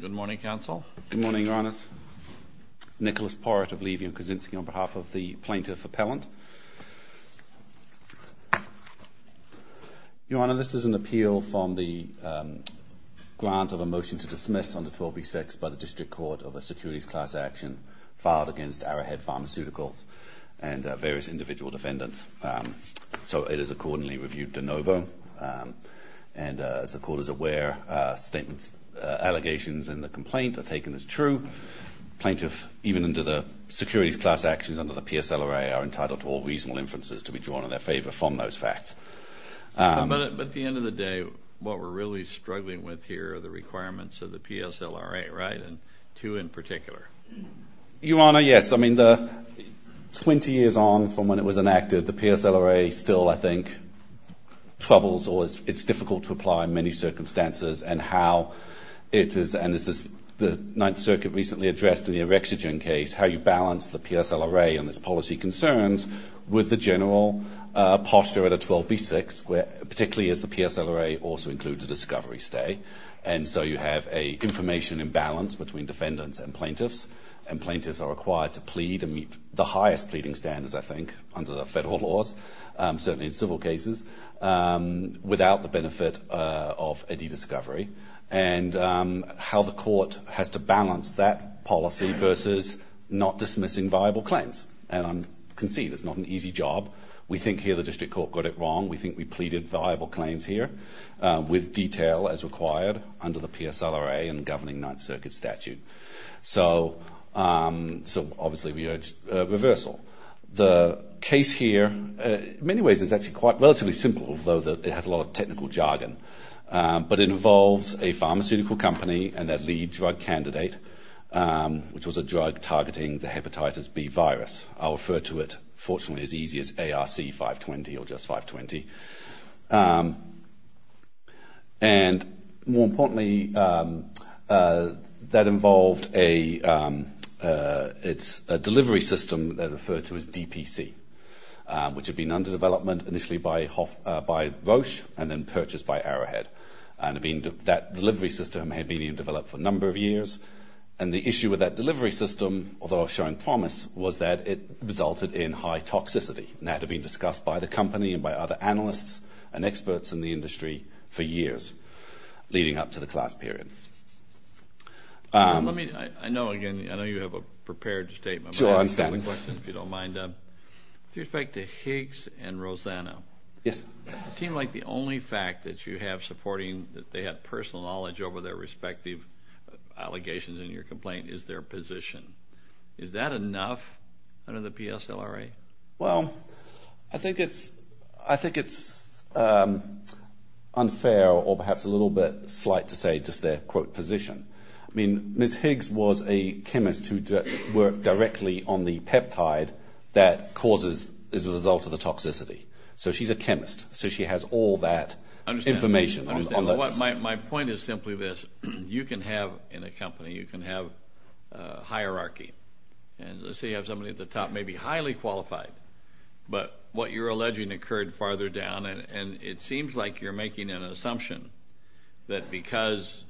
Good morning, Counsel. Good morning, Your Honor. Nicholas Porrett of Levy & Kuczynski on behalf of the Plaintiff Appellant. Your Honor, this is an appeal from the grant of a motion to dismiss under 12b-6 by the District Court of a securities class action filed against Arrowhead Pharmaceutical and various individual defendants. So it is accordingly reviewed de novo. And as the Court is aware, statements, allegations in the complaint are taken as true. Plaintiff, even under the securities class actions under the PSLRA, are entitled to all reasonable inferences to be drawn in their favor from those facts. But at the end of the day, what we're really struggling with here are the requirements of the PSLRA, right? And two in particular. Your Honor, yes. I mean, 20 years on from when it was enacted, the PSLRA still, I think, troubles or it's difficult to apply in many circumstances. And how it is, and this is the Ninth Circuit recently addressed in the Orexogen case, how you balance the PSLRA and its policy concerns with the general posture at a 12b-6, particularly as the PSLRA also includes a discovery stay. And so you have a information imbalance between defendants and plaintiffs. And plaintiffs are required to plead and meet the highest pleading standards, I think, under the federal laws, certainly in civil cases, without the benefit of any discovery. And how the Court has to balance that policy versus not dismissing viable claims. And I concede it's not an easy job. We think here the District Court got it wrong. We think we pleaded viable claims here with detail as required under the PSLRA and governing Ninth Circuit statute. So obviously we urge reversal. The case here, in many ways, is actually quite relatively simple, although it has a lot of technical jargon. But it involves a pharmaceutical company and their lead drug candidate, which was a drug targeting the hepatitis B virus. I'll refer to it, fortunately, as easy as ARC-520 or just 520. And more importantly, that involved a delivery system that referred to as DPC, which had been under development initially by Roche and then purchased by Arrowhead. And that delivery system had been developed for a number of years. And the issue with that delivery system, although I was sharing promise, was that it resulted in high toxicity. And that had been discussed by the company and by other analysts and experts in the industry for years leading up to the class period. I know, again, I know you have a prepared statement. With respect to Higgs and Rosanna, it seemed like the only fact that you have supporting that they have personal knowledge over their respective allegations in your complaint is their position. Is that enough under the PSLRA? Well, I think it's unfair or perhaps a little bit slight to say just their, quote, position. I mean, Ms. Higgs was a chemist who worked directly on the peptide that causes as a result of the toxicity. So she's a chemist. So she has all that information. My point is simply this. You can have in a company, you can have hierarchy. And let's say you have somebody at the top, maybe highly qualified, but what you're alleging occurred farther down. And it seems like you're making an assumption that because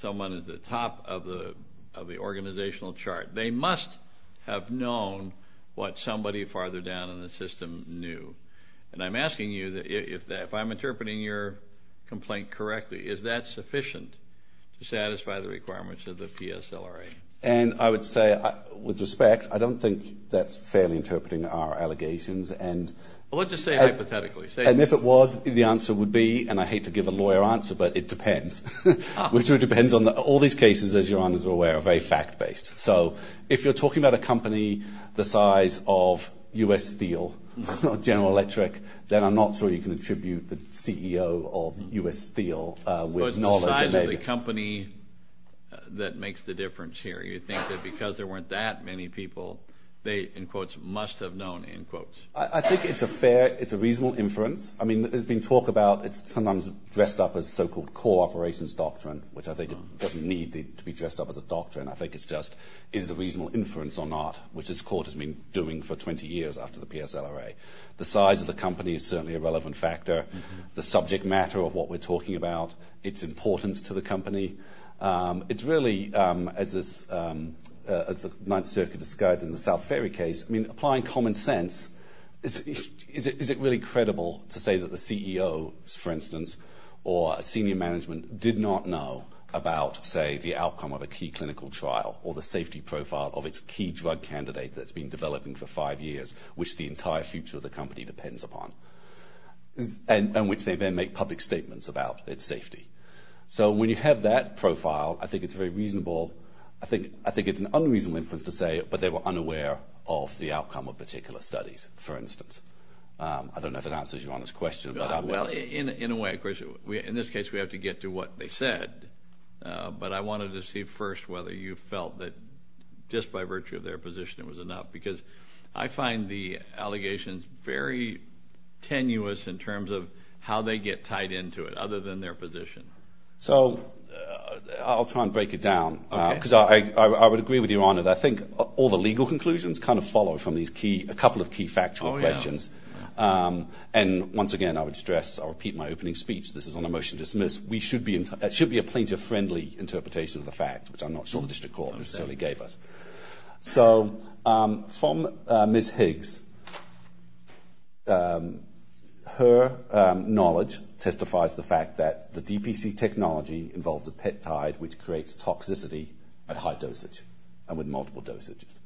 someone is at the top of the organizational chart, they must have known what somebody farther down in the system knew. And I'm asking you, if I'm interpreting your complaint correctly, is that sufficient to satisfy the requirements of the PSLRA? And I would say, with respect, I don't think that's fairly interpreting our allegations. Well, let's just say hypothetically. And if it was, the answer would be, and I hate to give a lawyer answer, but it depends. Which depends on all these cases, as your honors are aware, are very fact-based. So if you're talking about a company the size of U.S. Steel or General Electric, then I'm not sure you can attribute the CEO of U.S. Steel with knowledge. The size of the company that makes the difference here. You think that because there weren't that many people, they, in quotes, must have known, in quotes. I think it's a fair, it's a reasonable inference. I mean, there's been talk about it's sometimes dressed up as so-called core operations doctrine, which I think doesn't need to be dressed up as a doctrine. I think it's just, is it a reasonable inference or not, which this court has been doing for 20 years after the PSLRA. The size of the company is certainly a relevant factor. The subject matter of what we're talking about. Its importance to the company. It's really, as the Ninth Circuit described in the South Ferry case, I mean, applying common sense. Is it really credible to say that the CEO, for instance, or senior management did not know about, say, the outcome of a key clinical trial. Or the safety profile of its key drug candidate that's been developing for five years. Which the entire future of the company depends upon. And which they then make public statements about its safety. So when you have that profile, I think it's very reasonable. I think it's an unreasonable inference to say, but they were unaware of the outcome of particular studies, for instance. I don't know if that answers your honest question. Well, in a way, of course, in this case we have to get to what they said. But I wanted to see first whether you felt that just by virtue of their position it was enough. Because I find the allegations very tenuous in terms of how they get tied into it. Other than their position. So, I'll try and break it down. Because I would agree with your honor that I think all the legal conclusions kind of follow from a couple of key factual questions. And once again, I would stress, I'll repeat my opening speech. This is on a motion to dismiss. It should be a plaintiff friendly interpretation of the facts. Which I'm not sure the district court necessarily gave us. So, from Ms. Higgs, her knowledge testifies to the fact that the DPC technology involves a peptide which creates toxicity at high dosage. And with multiple dosages.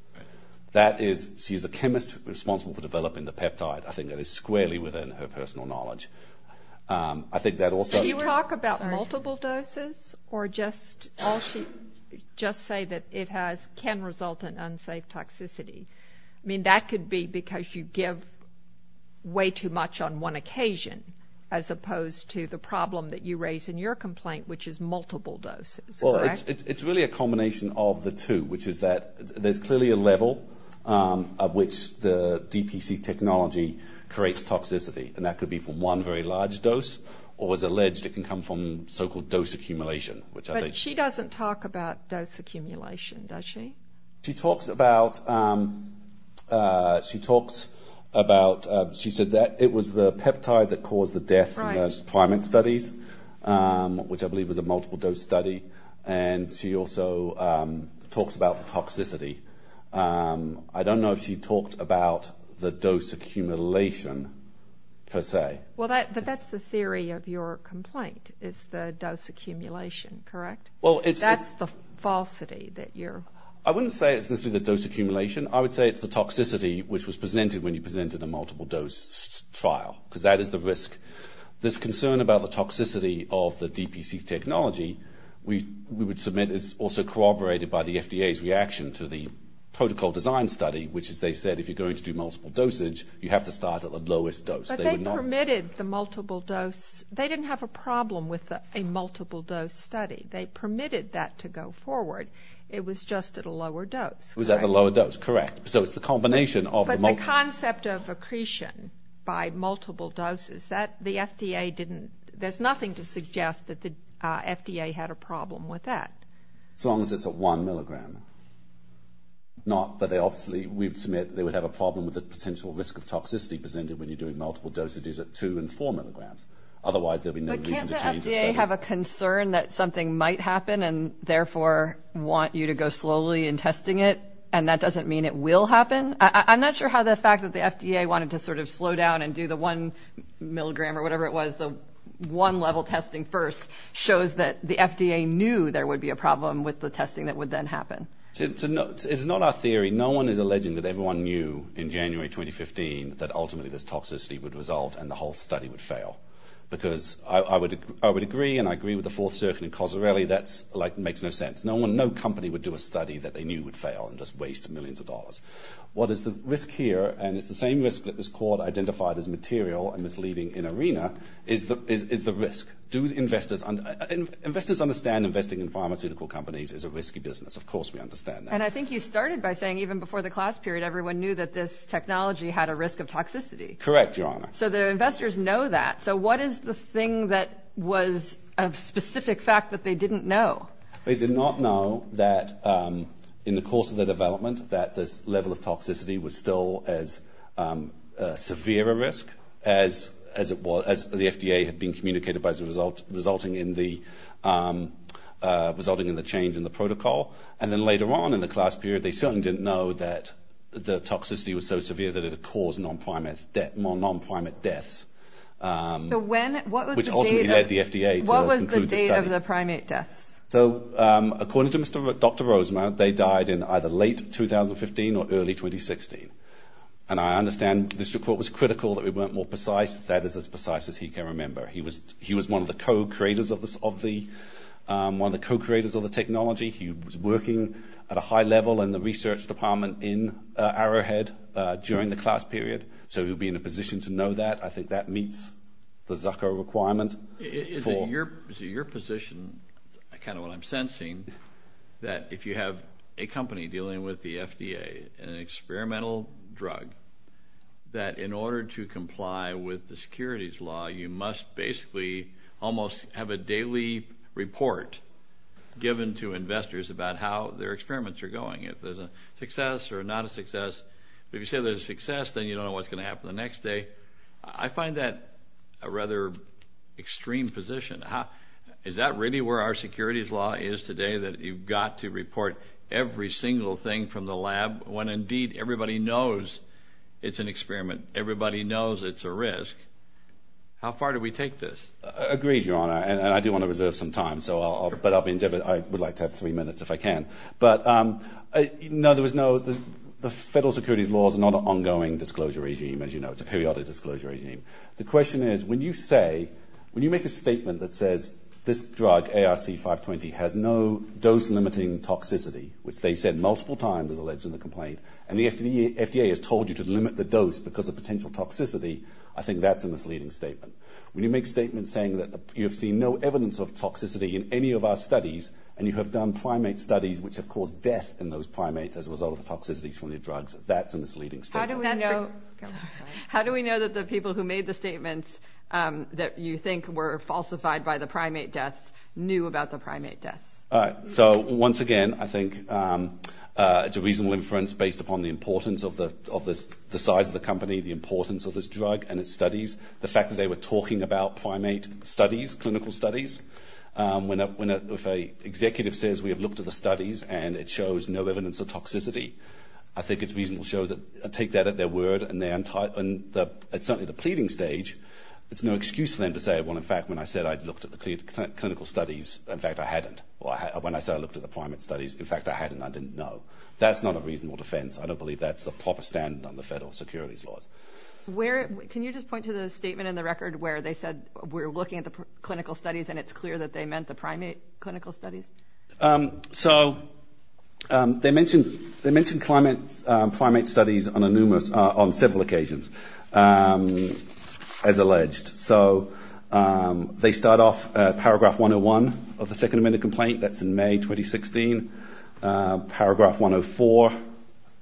That is, she's a chemist responsible for developing the peptide. I think that is squarely within her personal knowledge. I think that also... Did she talk about multiple doses? Or just say that it can result in unsafe toxicity? I mean, that could be because you give way too much on one occasion. As opposed to the problem that you raise in your complaint, which is multiple doses. It's really a combination of the two. Which is that there's clearly a level at which the DPC technology creates toxicity. And that could be from one very large dose. Or, as alleged, it can come from so-called dose accumulation. But she doesn't talk about dose accumulation, does she? She talks about... She said that it was the peptide that caused the deaths in the climate studies. Which I believe was a multiple dose study. And she also talks about the toxicity. I don't know if she talked about the dose accumulation, per se. But that's the theory of your complaint, is the dose accumulation, correct? That's the falsity that you're... I wouldn't say it's necessarily the dose accumulation. I would say it's the toxicity which was presented when you presented a multiple dose trial. Because that is the risk. This concern about the toxicity of the DPC technology, we would submit, is also corroborated by the FDA's reaction to the protocol design study. Which, as they said, if you're going to do multiple dosage, you have to start at the lowest dose. But they permitted the multiple dose. They didn't have a problem with a multiple dose study. They permitted that to go forward. It was just at a lower dose. It was at a lower dose, correct. So it's the combination of the multiple... But the concept of accretion by multiple doses, that the FDA didn't... that the FDA had a problem with that. As long as it's at one milligram. Not that they obviously... We would submit they would have a problem with the potential risk of toxicity presented when you're doing multiple dosages at two and four milligrams. Otherwise, there would be no reason to change the study. But can't the FDA have a concern that something might happen and therefore want you to go slowly in testing it, and that doesn't mean it will happen? I'm not sure how the fact that the FDA wanted to sort of slow down and do the one milligram or whatever it was, the one level testing first, shows that the FDA knew there would be a problem with the testing that would then happen. It's not our theory. No one is alleging that everyone knew in January 2015 that ultimately this toxicity would result and the whole study would fail. Because I would agree, and I agree with the Fourth Circuit and Cozzarelli, that makes no sense. No company would do a study that they knew would fail and just waste millions of dollars. What is the risk here, and it's the same risk that this court identified as material and misleading in ARENA, is the risk. Investors understand investing in pharmaceutical companies is a risky business. Of course we understand that. And I think you started by saying even before the class period everyone knew that this technology had a risk of toxicity. Correct, Your Honor. So the investors know that. So what is the thing that was a specific fact that they didn't know? They did not know that in the course of the development that this level of toxicity was still as severe a risk as the FDA had been communicated by resulting in the change in the protocol. And then later on in the class period they certainly didn't know that the toxicity was so severe that it had caused non-primate deaths, which ultimately led the FDA to conclude the study. What was the date of the primate deaths? So according to Dr. Rosemount, they died in either late 2015 or early 2016. And I understand the district court was critical that we weren't more precise. That is as precise as he can remember. He was one of the co-creators of the technology. He was working at a high level in the research department in Arrowhead during the class period, so he would be in a position to know that. I think that meets the Zucker requirement. Is it your position, kind of what I'm sensing, that if you have a company dealing with the FDA, an experimental drug, that in order to comply with the securities law you must basically almost have a daily report given to investors about how their experiments are going, if there's a success or not a success. If you say there's a success, then you don't know what's going to happen the next day. I find that a rather extreme position. Is that really where our securities law is today, that you've got to report every single thing from the lab when indeed everybody knows it's an experiment, everybody knows it's a risk? How far do we take this? Agreed, Your Honor, and I do want to reserve some time, but I would like to have three minutes if I can. But, no, the federal securities law is not an ongoing disclosure regime, as you know. It's a periodic disclosure regime. The question is, when you say, when you make a statement that says, this drug, ARC-520, has no dose-limiting toxicity, which they said multiple times, as alleged in the complaint, and the FDA has told you to limit the dose because of potential toxicity, I think that's a misleading statement. When you make a statement saying that you have seen no evidence of toxicity in any of our studies, and you have done primate studies which have caused death in those primates as a result of the toxicities from the drugs, that's a misleading statement. How do we know that the people who made the statements that you think were falsified by the primate deaths knew about the primate deaths? All right, so, once again, I think it's a reasonable inference based upon the importance of the size of the company, the importance of this drug and its studies, the fact that they were talking about primate studies, clinical studies. When an executive says, we have looked at the studies, and it shows no evidence of toxicity, I think it's reasonable to take that at their word, and certainly at the pleading stage, it's no excuse for them to say, well, in fact, when I said I'd looked at the clinical studies, in fact, I hadn't, or when I said I looked at the primate studies, in fact, I hadn't, I didn't know. That's not a reasonable defense. I don't believe that's the proper standard on the federal securities laws. Can you just point to the statement in the record where they said we're looking at the clinical studies, and it's clear that they meant the primate clinical studies? So they mentioned primate studies on several occasions, as alleged. So they start off paragraph 101 of the Second Amendment complaint. That's in May 2016. Paragraph 104,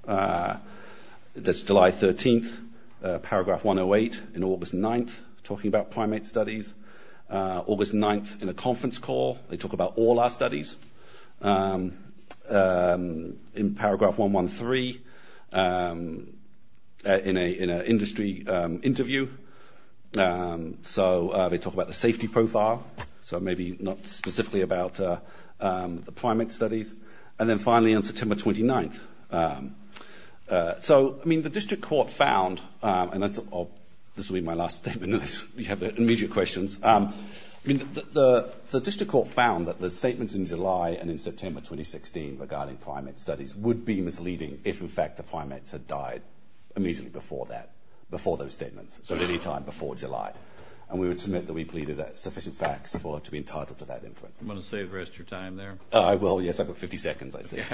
that's July 13th. Paragraph 108 in August 9th, talking about primate studies. August 9th in a conference call. They talk about all our studies. In paragraph 113, in an industry interview. So they talk about the safety profile, so maybe not specifically about the primate studies. And then finally on September 29th. So, I mean, the district court found, and this will be my last statement, unless you have immediate questions. The district court found that the statements in July and in September 2016 regarding primate studies would be misleading if, in fact, the primates had died immediately before that, before those statements, so any time before July. And we would submit that we pleaded sufficient facts to be entitled to that inference. Do you want to save the rest of your time there? I will, yes. I've got 50 seconds, I think.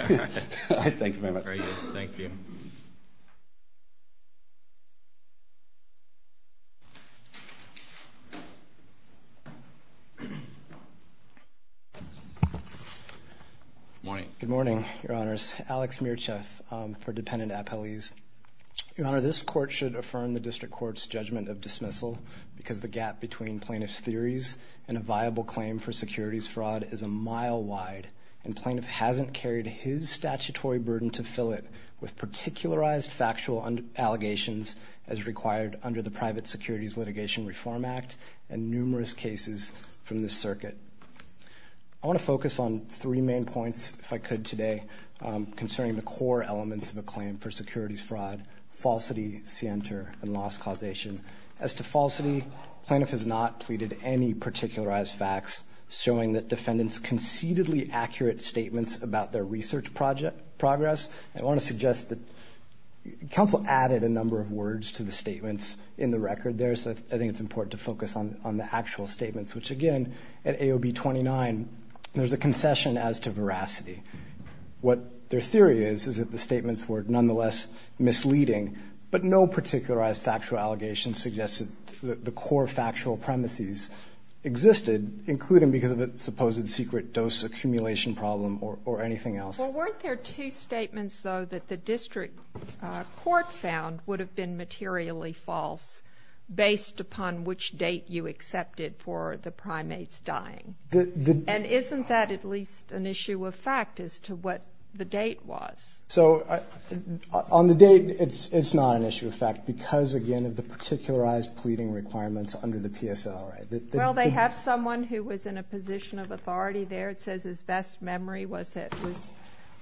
All right. Thank you very much. Thank you. Good morning. Good morning, Your Honors. Alex Mircheff for dependent appellees. Your Honor, this court should affirm the district court's judgment of dismissal because the gap between plaintiff's theories and a viable claim for securities fraud is a mile wide, and plaintiff hasn't carried his statutory burden to fill it with particularized factual allegations as required under the Private Securities Litigation Reform Act and numerous cases from this circuit. I want to focus on three main points, if I could today, concerning the core elements of a claim for securities fraud, falsity, scienter, and loss causation. As to falsity, plaintiff has not pleaded any particularized facts, showing that defendants' concededly accurate statements about their research progress. I want to suggest that counsel added a number of words to the statements in the record there, so I think it's important to focus on the actual statements, which, again, at AOB 29, there's a concession as to veracity. What their theory is is that the statements were nonetheless misleading, but no particularized factual allegations suggested that the core factual premises existed, including because of a supposed secret dose accumulation problem or anything else. Well, weren't there two statements, though, that the district court found would have been materially false based upon which date you accepted for the primates dying? And isn't that at least an issue of fact as to what the date was? So on the date, it's not an issue of fact because, again, of the particularized pleading requirements under the PSL, right? Well, they have someone who was in a position of authority there. The district court says his best memory was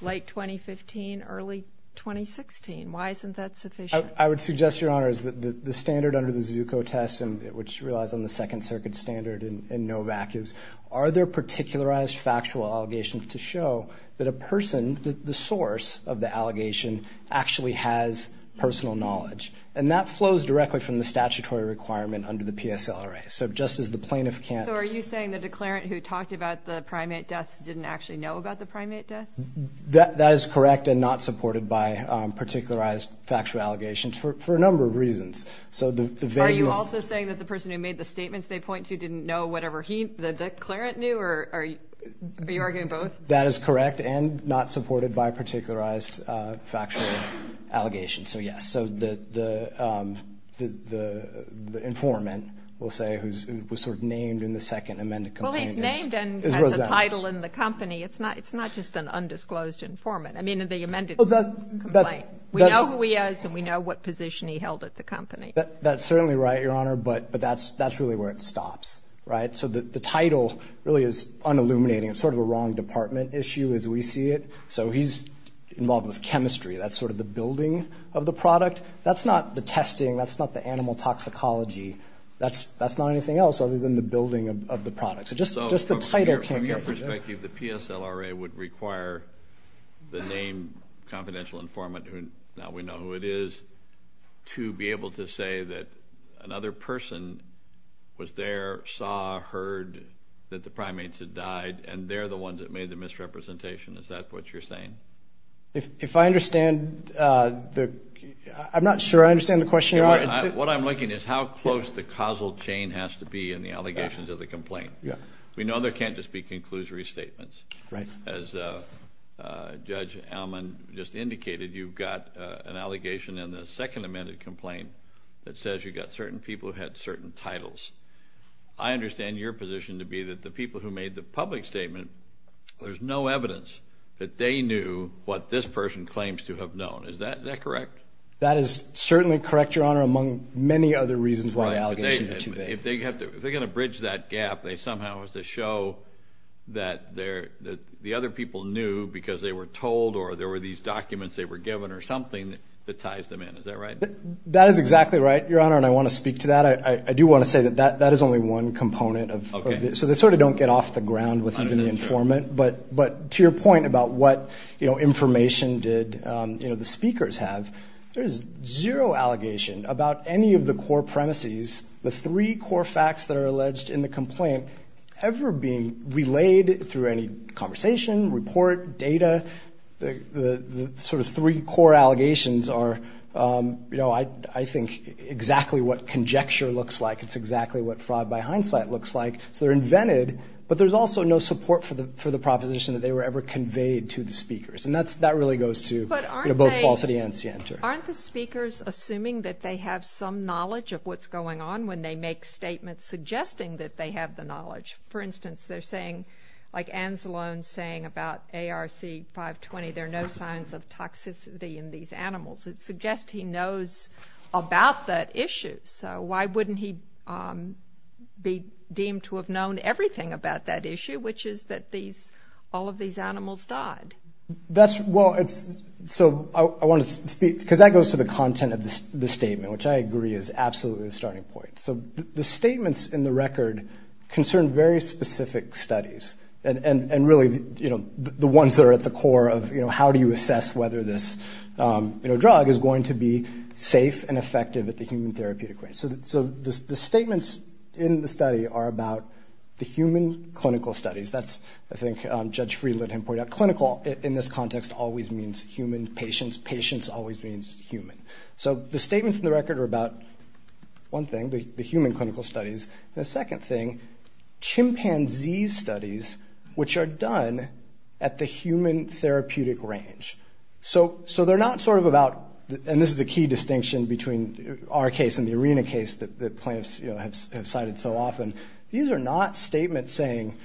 late 2015, early 2016. Why isn't that sufficient? I would suggest, Your Honor, is that the standard under the Zucco test, which relies on the Second Circuit standard and no vacuums, are there particularized factual allegations to show that a person, the source of the allegation actually has personal knowledge? And that flows directly from the statutory requirement under the PSLRA. So just as the plaintiff can't- So the plaintiff didn't actually know about the primate deaths? That is correct and not supported by particularized factual allegations for a number of reasons. Are you also saying that the person who made the statements they point to didn't know whatever the declarant knew? Are you arguing both? That is correct and not supported by particularized factual allegations. So, yes, the informant, we'll say, who was sort of named in the second amended complaint- As a title in the company, it's not just an undisclosed informant. I mean, in the amended complaint. We know who he is and we know what position he held at the company. That's certainly right, Your Honor, but that's really where it stops, right? So the title really is unilluminating. It's sort of a wrong department issue as we see it. So he's involved with chemistry. That's sort of the building of the product. That's not the testing. That's not the animal toxicology. That's not anything else other than the building of the product. So just the title can't get you there. So from your perspective, the PSLRA would require the named confidential informant, now we know who it is, to be able to say that another person was there, saw, heard that the primates had died, and they're the ones that made the misrepresentation. Is that what you're saying? If I understand the – I'm not sure I understand the question, Your Honor. What I'm looking at is how close the causal chain has to be in the allegations of the complaint. We know there can't just be conclusory statements. As Judge Allman just indicated, you've got an allegation in the second amended complaint that says you've got certain people who had certain titles. I understand your position to be that the people who made the public statement, there's no evidence that they knew what this person claims to have known. Is that correct? That is certainly correct, Your Honor, among many other reasons why the allegations are too big. If they're going to bridge that gap, they somehow have to show that the other people knew because they were told or there were these documents they were given or something that ties them in. Is that right? That is exactly right, Your Honor, and I want to speak to that. I do want to say that that is only one component of this. So they sort of don't get off the ground with even the informant. But to your point about what information did the speakers have, there is zero allegation about any of the core premises, the three core facts that are alleged in the complaint ever being relayed through any conversation, report, data. The sort of three core allegations are, I think, exactly what conjecture looks like. It's exactly what fraud by hindsight looks like. So they're invented, but there's also no support for the proposition that they were ever conveyed to the speakers. And that really goes to both falsity and scienter. But aren't the speakers assuming that they have some knowledge of what's going on when they make statements suggesting that they have the knowledge? For instance, they're saying, like Anzalone's saying about ARC 520, there are no signs of toxicity in these animals. It suggests he knows about that issue. So why wouldn't he be deemed to have known everything about that issue, which is that all of these animals died? Well, so I want to speak, because that goes to the content of the statement, which I agree is absolutely the starting point. So the statements in the record concern very specific studies, and really the ones that are at the core of how do you assess whether this drug is going to be safe and effective at the human therapeutic range? So the statements in the study are about the human clinical studies. That's, I think, Judge Friedland had pointed out, clinical in this context always means human, patients. Patients always means human. So the statements in the record are about, one thing, the human clinical studies, and the second thing, chimpanzee studies, which are done at the human therapeutic range. So they're not sort of about, and this is a key distinction between our case and the ARENA case that plaintiffs have cited so often, these are not statements saying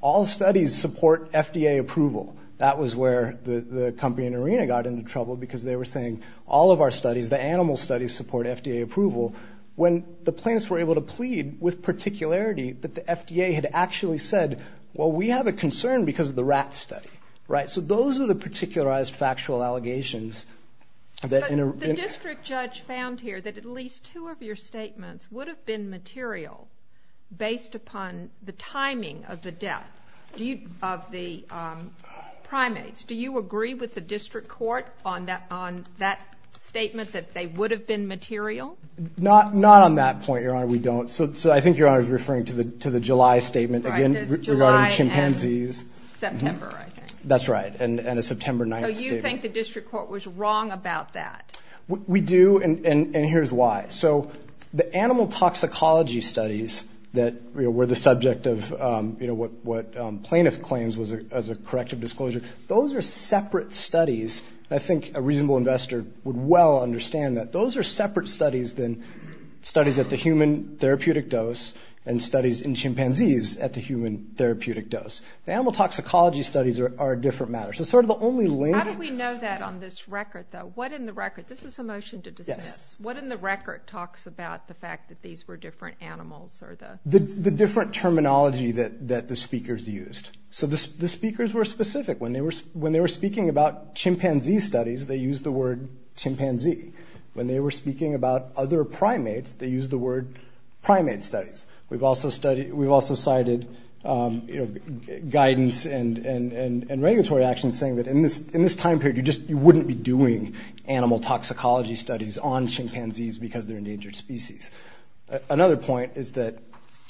all studies support FDA approval. That was where the company in ARENA got into trouble, because they were saying all of our studies, the animal studies, support FDA approval, when the plaintiffs were able to plead with particularity that the FDA had actually said, well, we have a concern because of the rat study. Right? So those are the particularized factual allegations. The district judge found here that at least two of your statements would have been material based upon the timing of the death of the primates. Do you agree with the district court on that statement that they would have been material? Not on that point, Your Honor, we don't. So I think Your Honor is referring to the July statement, again, regarding chimpanzees. September, I think. That's right, and a September 9th statement. So you think the district court was wrong about that? We do, and here's why. So the animal toxicology studies that were the subject of what plaintiff claims was a corrective disclosure, those are separate studies, and I think a reasonable investor would well understand that. Those are separate studies than studies at the human therapeutic dose and studies in chimpanzees at the human therapeutic dose. The animal toxicology studies are a different matter. How do we know that on this record, though? This is a motion to dismiss. What in the record talks about the fact that these were different animals? The different terminology that the speakers used. So the speakers were specific. When they were speaking about chimpanzee studies, they used the word chimpanzee. When they were speaking about other primates, they used the word primate studies. We've also cited guidance and regulatory action saying that in this time period, you wouldn't be doing animal toxicology studies on chimpanzees because they're endangered species. Another point is that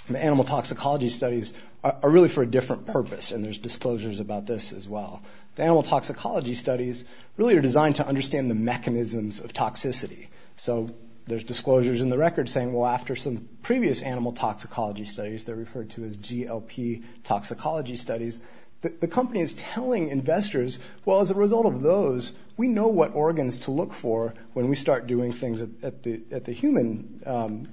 the animal toxicology studies are really for a different purpose, and there's disclosures about this as well. The animal toxicology studies really are designed to understand the mechanisms of toxicity. So there's disclosures in the record saying, well, after some previous animal toxicology studies, they're referred to as GLP toxicology studies. The company is telling investors, well, as a result of those, we know what organs to look for when we start doing things at the human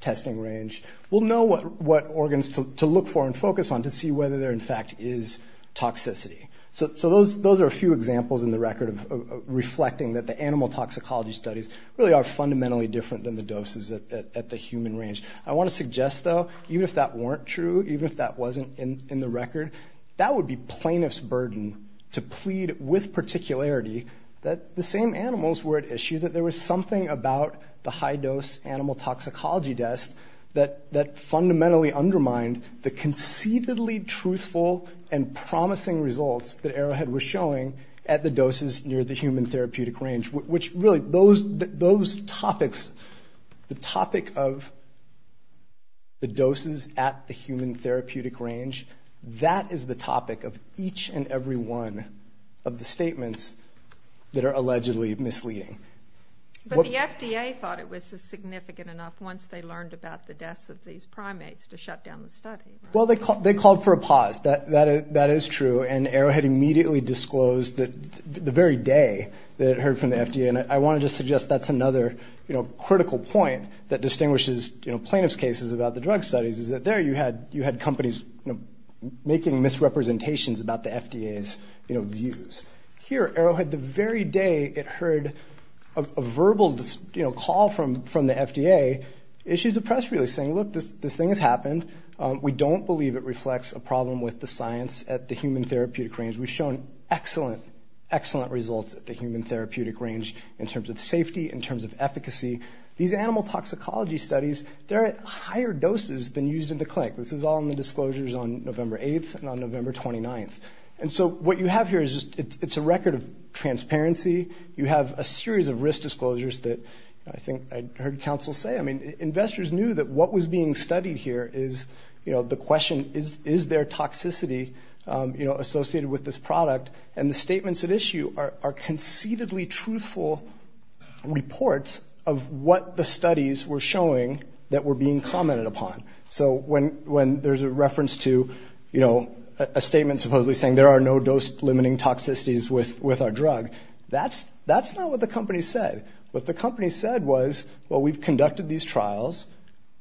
testing range. We'll know what organs to look for and focus on to see whether there, in fact, is toxicity. So those are a few examples in the record of reflecting that the animal toxicology studies really are fundamentally different than the doses at the human range. I want to suggest, though, even if that weren't true, even if that wasn't in the record, that would be plaintiff's burden to plead with particularity that the same animals were at issue, that there was something about the high-dose animal toxicology tests that fundamentally undermined the conceitedly truthful and promising results that Arrowhead was showing at the doses near the human therapeutic range, which really, those topics, the topic of the doses at the human therapeutic range, that is the topic of each and every one of the statements that are allegedly misleading. But the FDA thought it was significant enough once they learned about the deaths of these primates to shut down the study, right? Well, they called for a pause. That is true, and Arrowhead immediately disclosed the very day that it heard from the FDA. And I want to just suggest that's another critical point that distinguishes plaintiff's cases about the drug studies is that there you had companies making misrepresentations about the FDA's views. Here, Arrowhead, the very day it heard a verbal call from the FDA, issues a press release saying, look, this thing has happened. We don't believe it reflects a problem with the science at the human therapeutic range. We've shown excellent, excellent results at the human therapeutic range in terms of safety, in terms of efficacy. These animal toxicology studies, they're at higher doses than used in the clinic. This is all in the disclosures on November 8th and on November 29th. And so what you have here is it's a record of transparency. You have a series of risk disclosures that I think I heard counsel say. I mean, investors knew that what was being studied here is, you know, the question, is there toxicity, you know, associated with this product? And the statements at issue are conceitedly truthful reports of what the studies were showing that were being commented upon. So when there's a reference to, you know, a statement supposedly saying there are no dose-limiting toxicities with our drug, that's not what the company said. What the company said was, well, we've conducted these trials,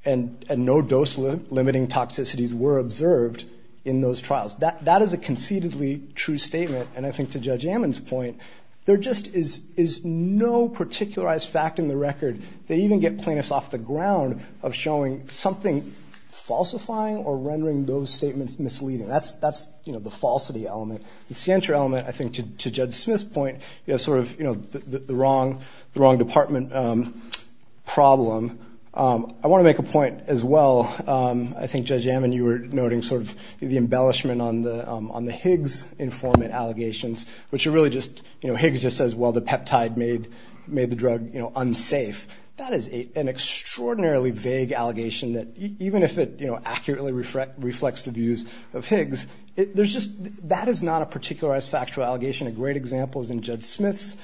and no dose-limiting toxicities were observed in those trials. That is a conceitedly true statement. And I think to Judge Ammon's point, there just is no particularized fact in the record. They even get plaintiffs off the ground of showing something falsifying or rendering those statements misleading. That's, you know, the falsity element. The scienter element, I think, to Judge Smith's point, is sort of, you know, the wrong department problem. I want to make a point as well. I think Judge Ammon, you were noting sort of the embellishment on the Higgs informant allegations, which are really just, you know, Higgs just says, well, the peptide made the drug unsafe. That is an extraordinarily vague allegation that even if it accurately reflects the views of Higgs, that is not a particularized factual allegation. A great example is in Judge Smith's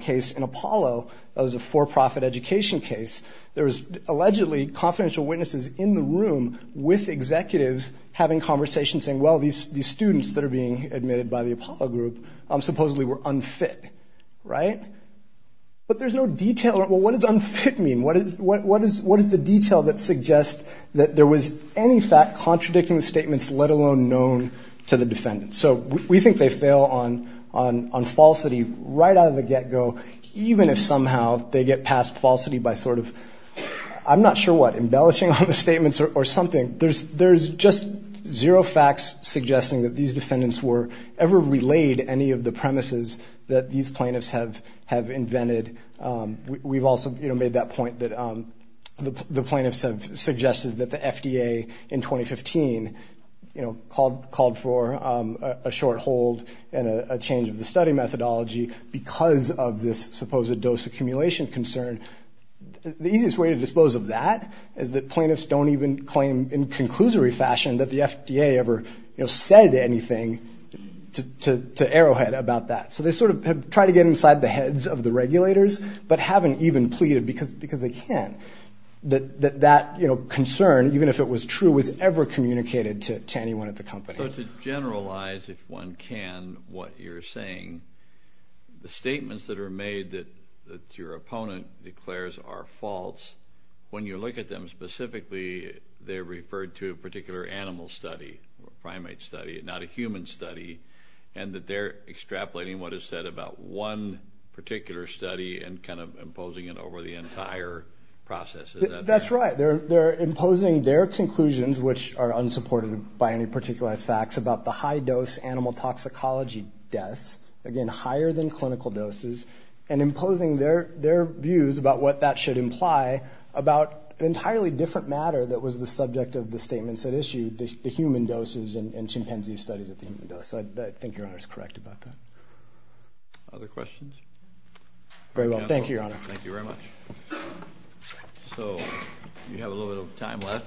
case in Apollo. That was a for-profit education case. There was allegedly confidential witnesses in the room with executives having conversations saying, well, these students that are being admitted by the Apollo group supposedly were unfit, right? But there's no detail. Well, what does unfit mean? What is the detail that suggests that there was any fact contradicting the statements, let alone known to the defendant? So we think they fail on falsity right out of the get-go, even if somehow they get past falsity by sort of, I'm not sure what, embellishing on the statements or something. There's just zero facts suggesting that these defendants were ever relayed any of the premises that these plaintiffs have invented. We've also made that point that the plaintiffs have suggested that the FDA in 2015, you know, called for a short hold and a change of the study methodology because of this supposed dose accumulation concern. The easiest way to dispose of that is that plaintiffs don't even claim in conclusory fashion that the FDA ever, you know, said anything to Arrowhead about that. So they sort of have tried to get inside the heads of the regulators, but haven't even pleaded because they can't, that that, you know, concern, even if it was true, was ever communicated to anyone at the company. So to generalize, if one can, what you're saying, the statements that are made that your opponent declares are false, when you look at them specifically, they're referred to a particular animal study, a primate study, not a human study, and that they're extrapolating what is said about one particular study and kind of imposing it over the entire process. That's right. They're imposing their conclusions, which are unsupported by any particular facts, about the high-dose animal toxicology deaths, again, higher than clinical doses, and imposing their views about what that should imply about an entirely different matter that was the subject of the statements at issue, the human doses and chimpanzee studies at the human dose. So I think Your Honor is correct about that. Other questions? Very well. Thank you, Your Honor. Thank you very much. So we have a little bit of time left.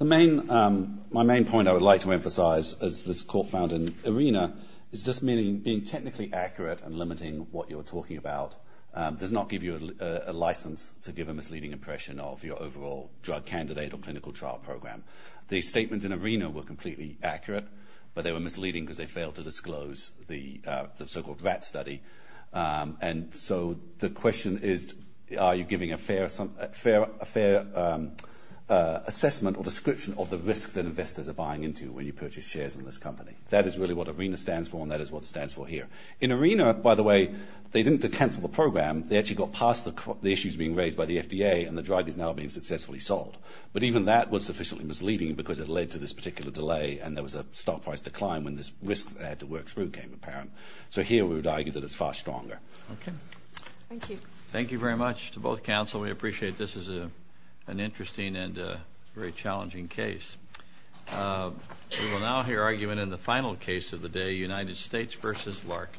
My main point I would like to emphasize, as this court found in ARENA, is just being technically accurate and limiting what you're talking about does not give you a license to give a misleading impression of your overall drug candidate or clinical trial program. The statements in ARENA were completely accurate, but they were misleading because they failed to disclose the so-called RAT study. And so the question is, are you giving a fair assessment or description of the risk that investors are buying into when you purchase shares in this company? That is really what ARENA stands for, and that is what it stands for here. In ARENA, by the way, they didn't cancel the program. They actually got past the issues being raised by the FDA, and the drug is now being successfully sold. But even that was sufficiently misleading because it led to this particular delay, and there was a stock price decline when this risk they had to work through came apparent. So here we would argue that it's far stronger. Okay. Thank you. Thank you very much to both counsel. We appreciate this is an interesting and very challenging case. We will now hear argument in the final case of the day, United States v. Larkin.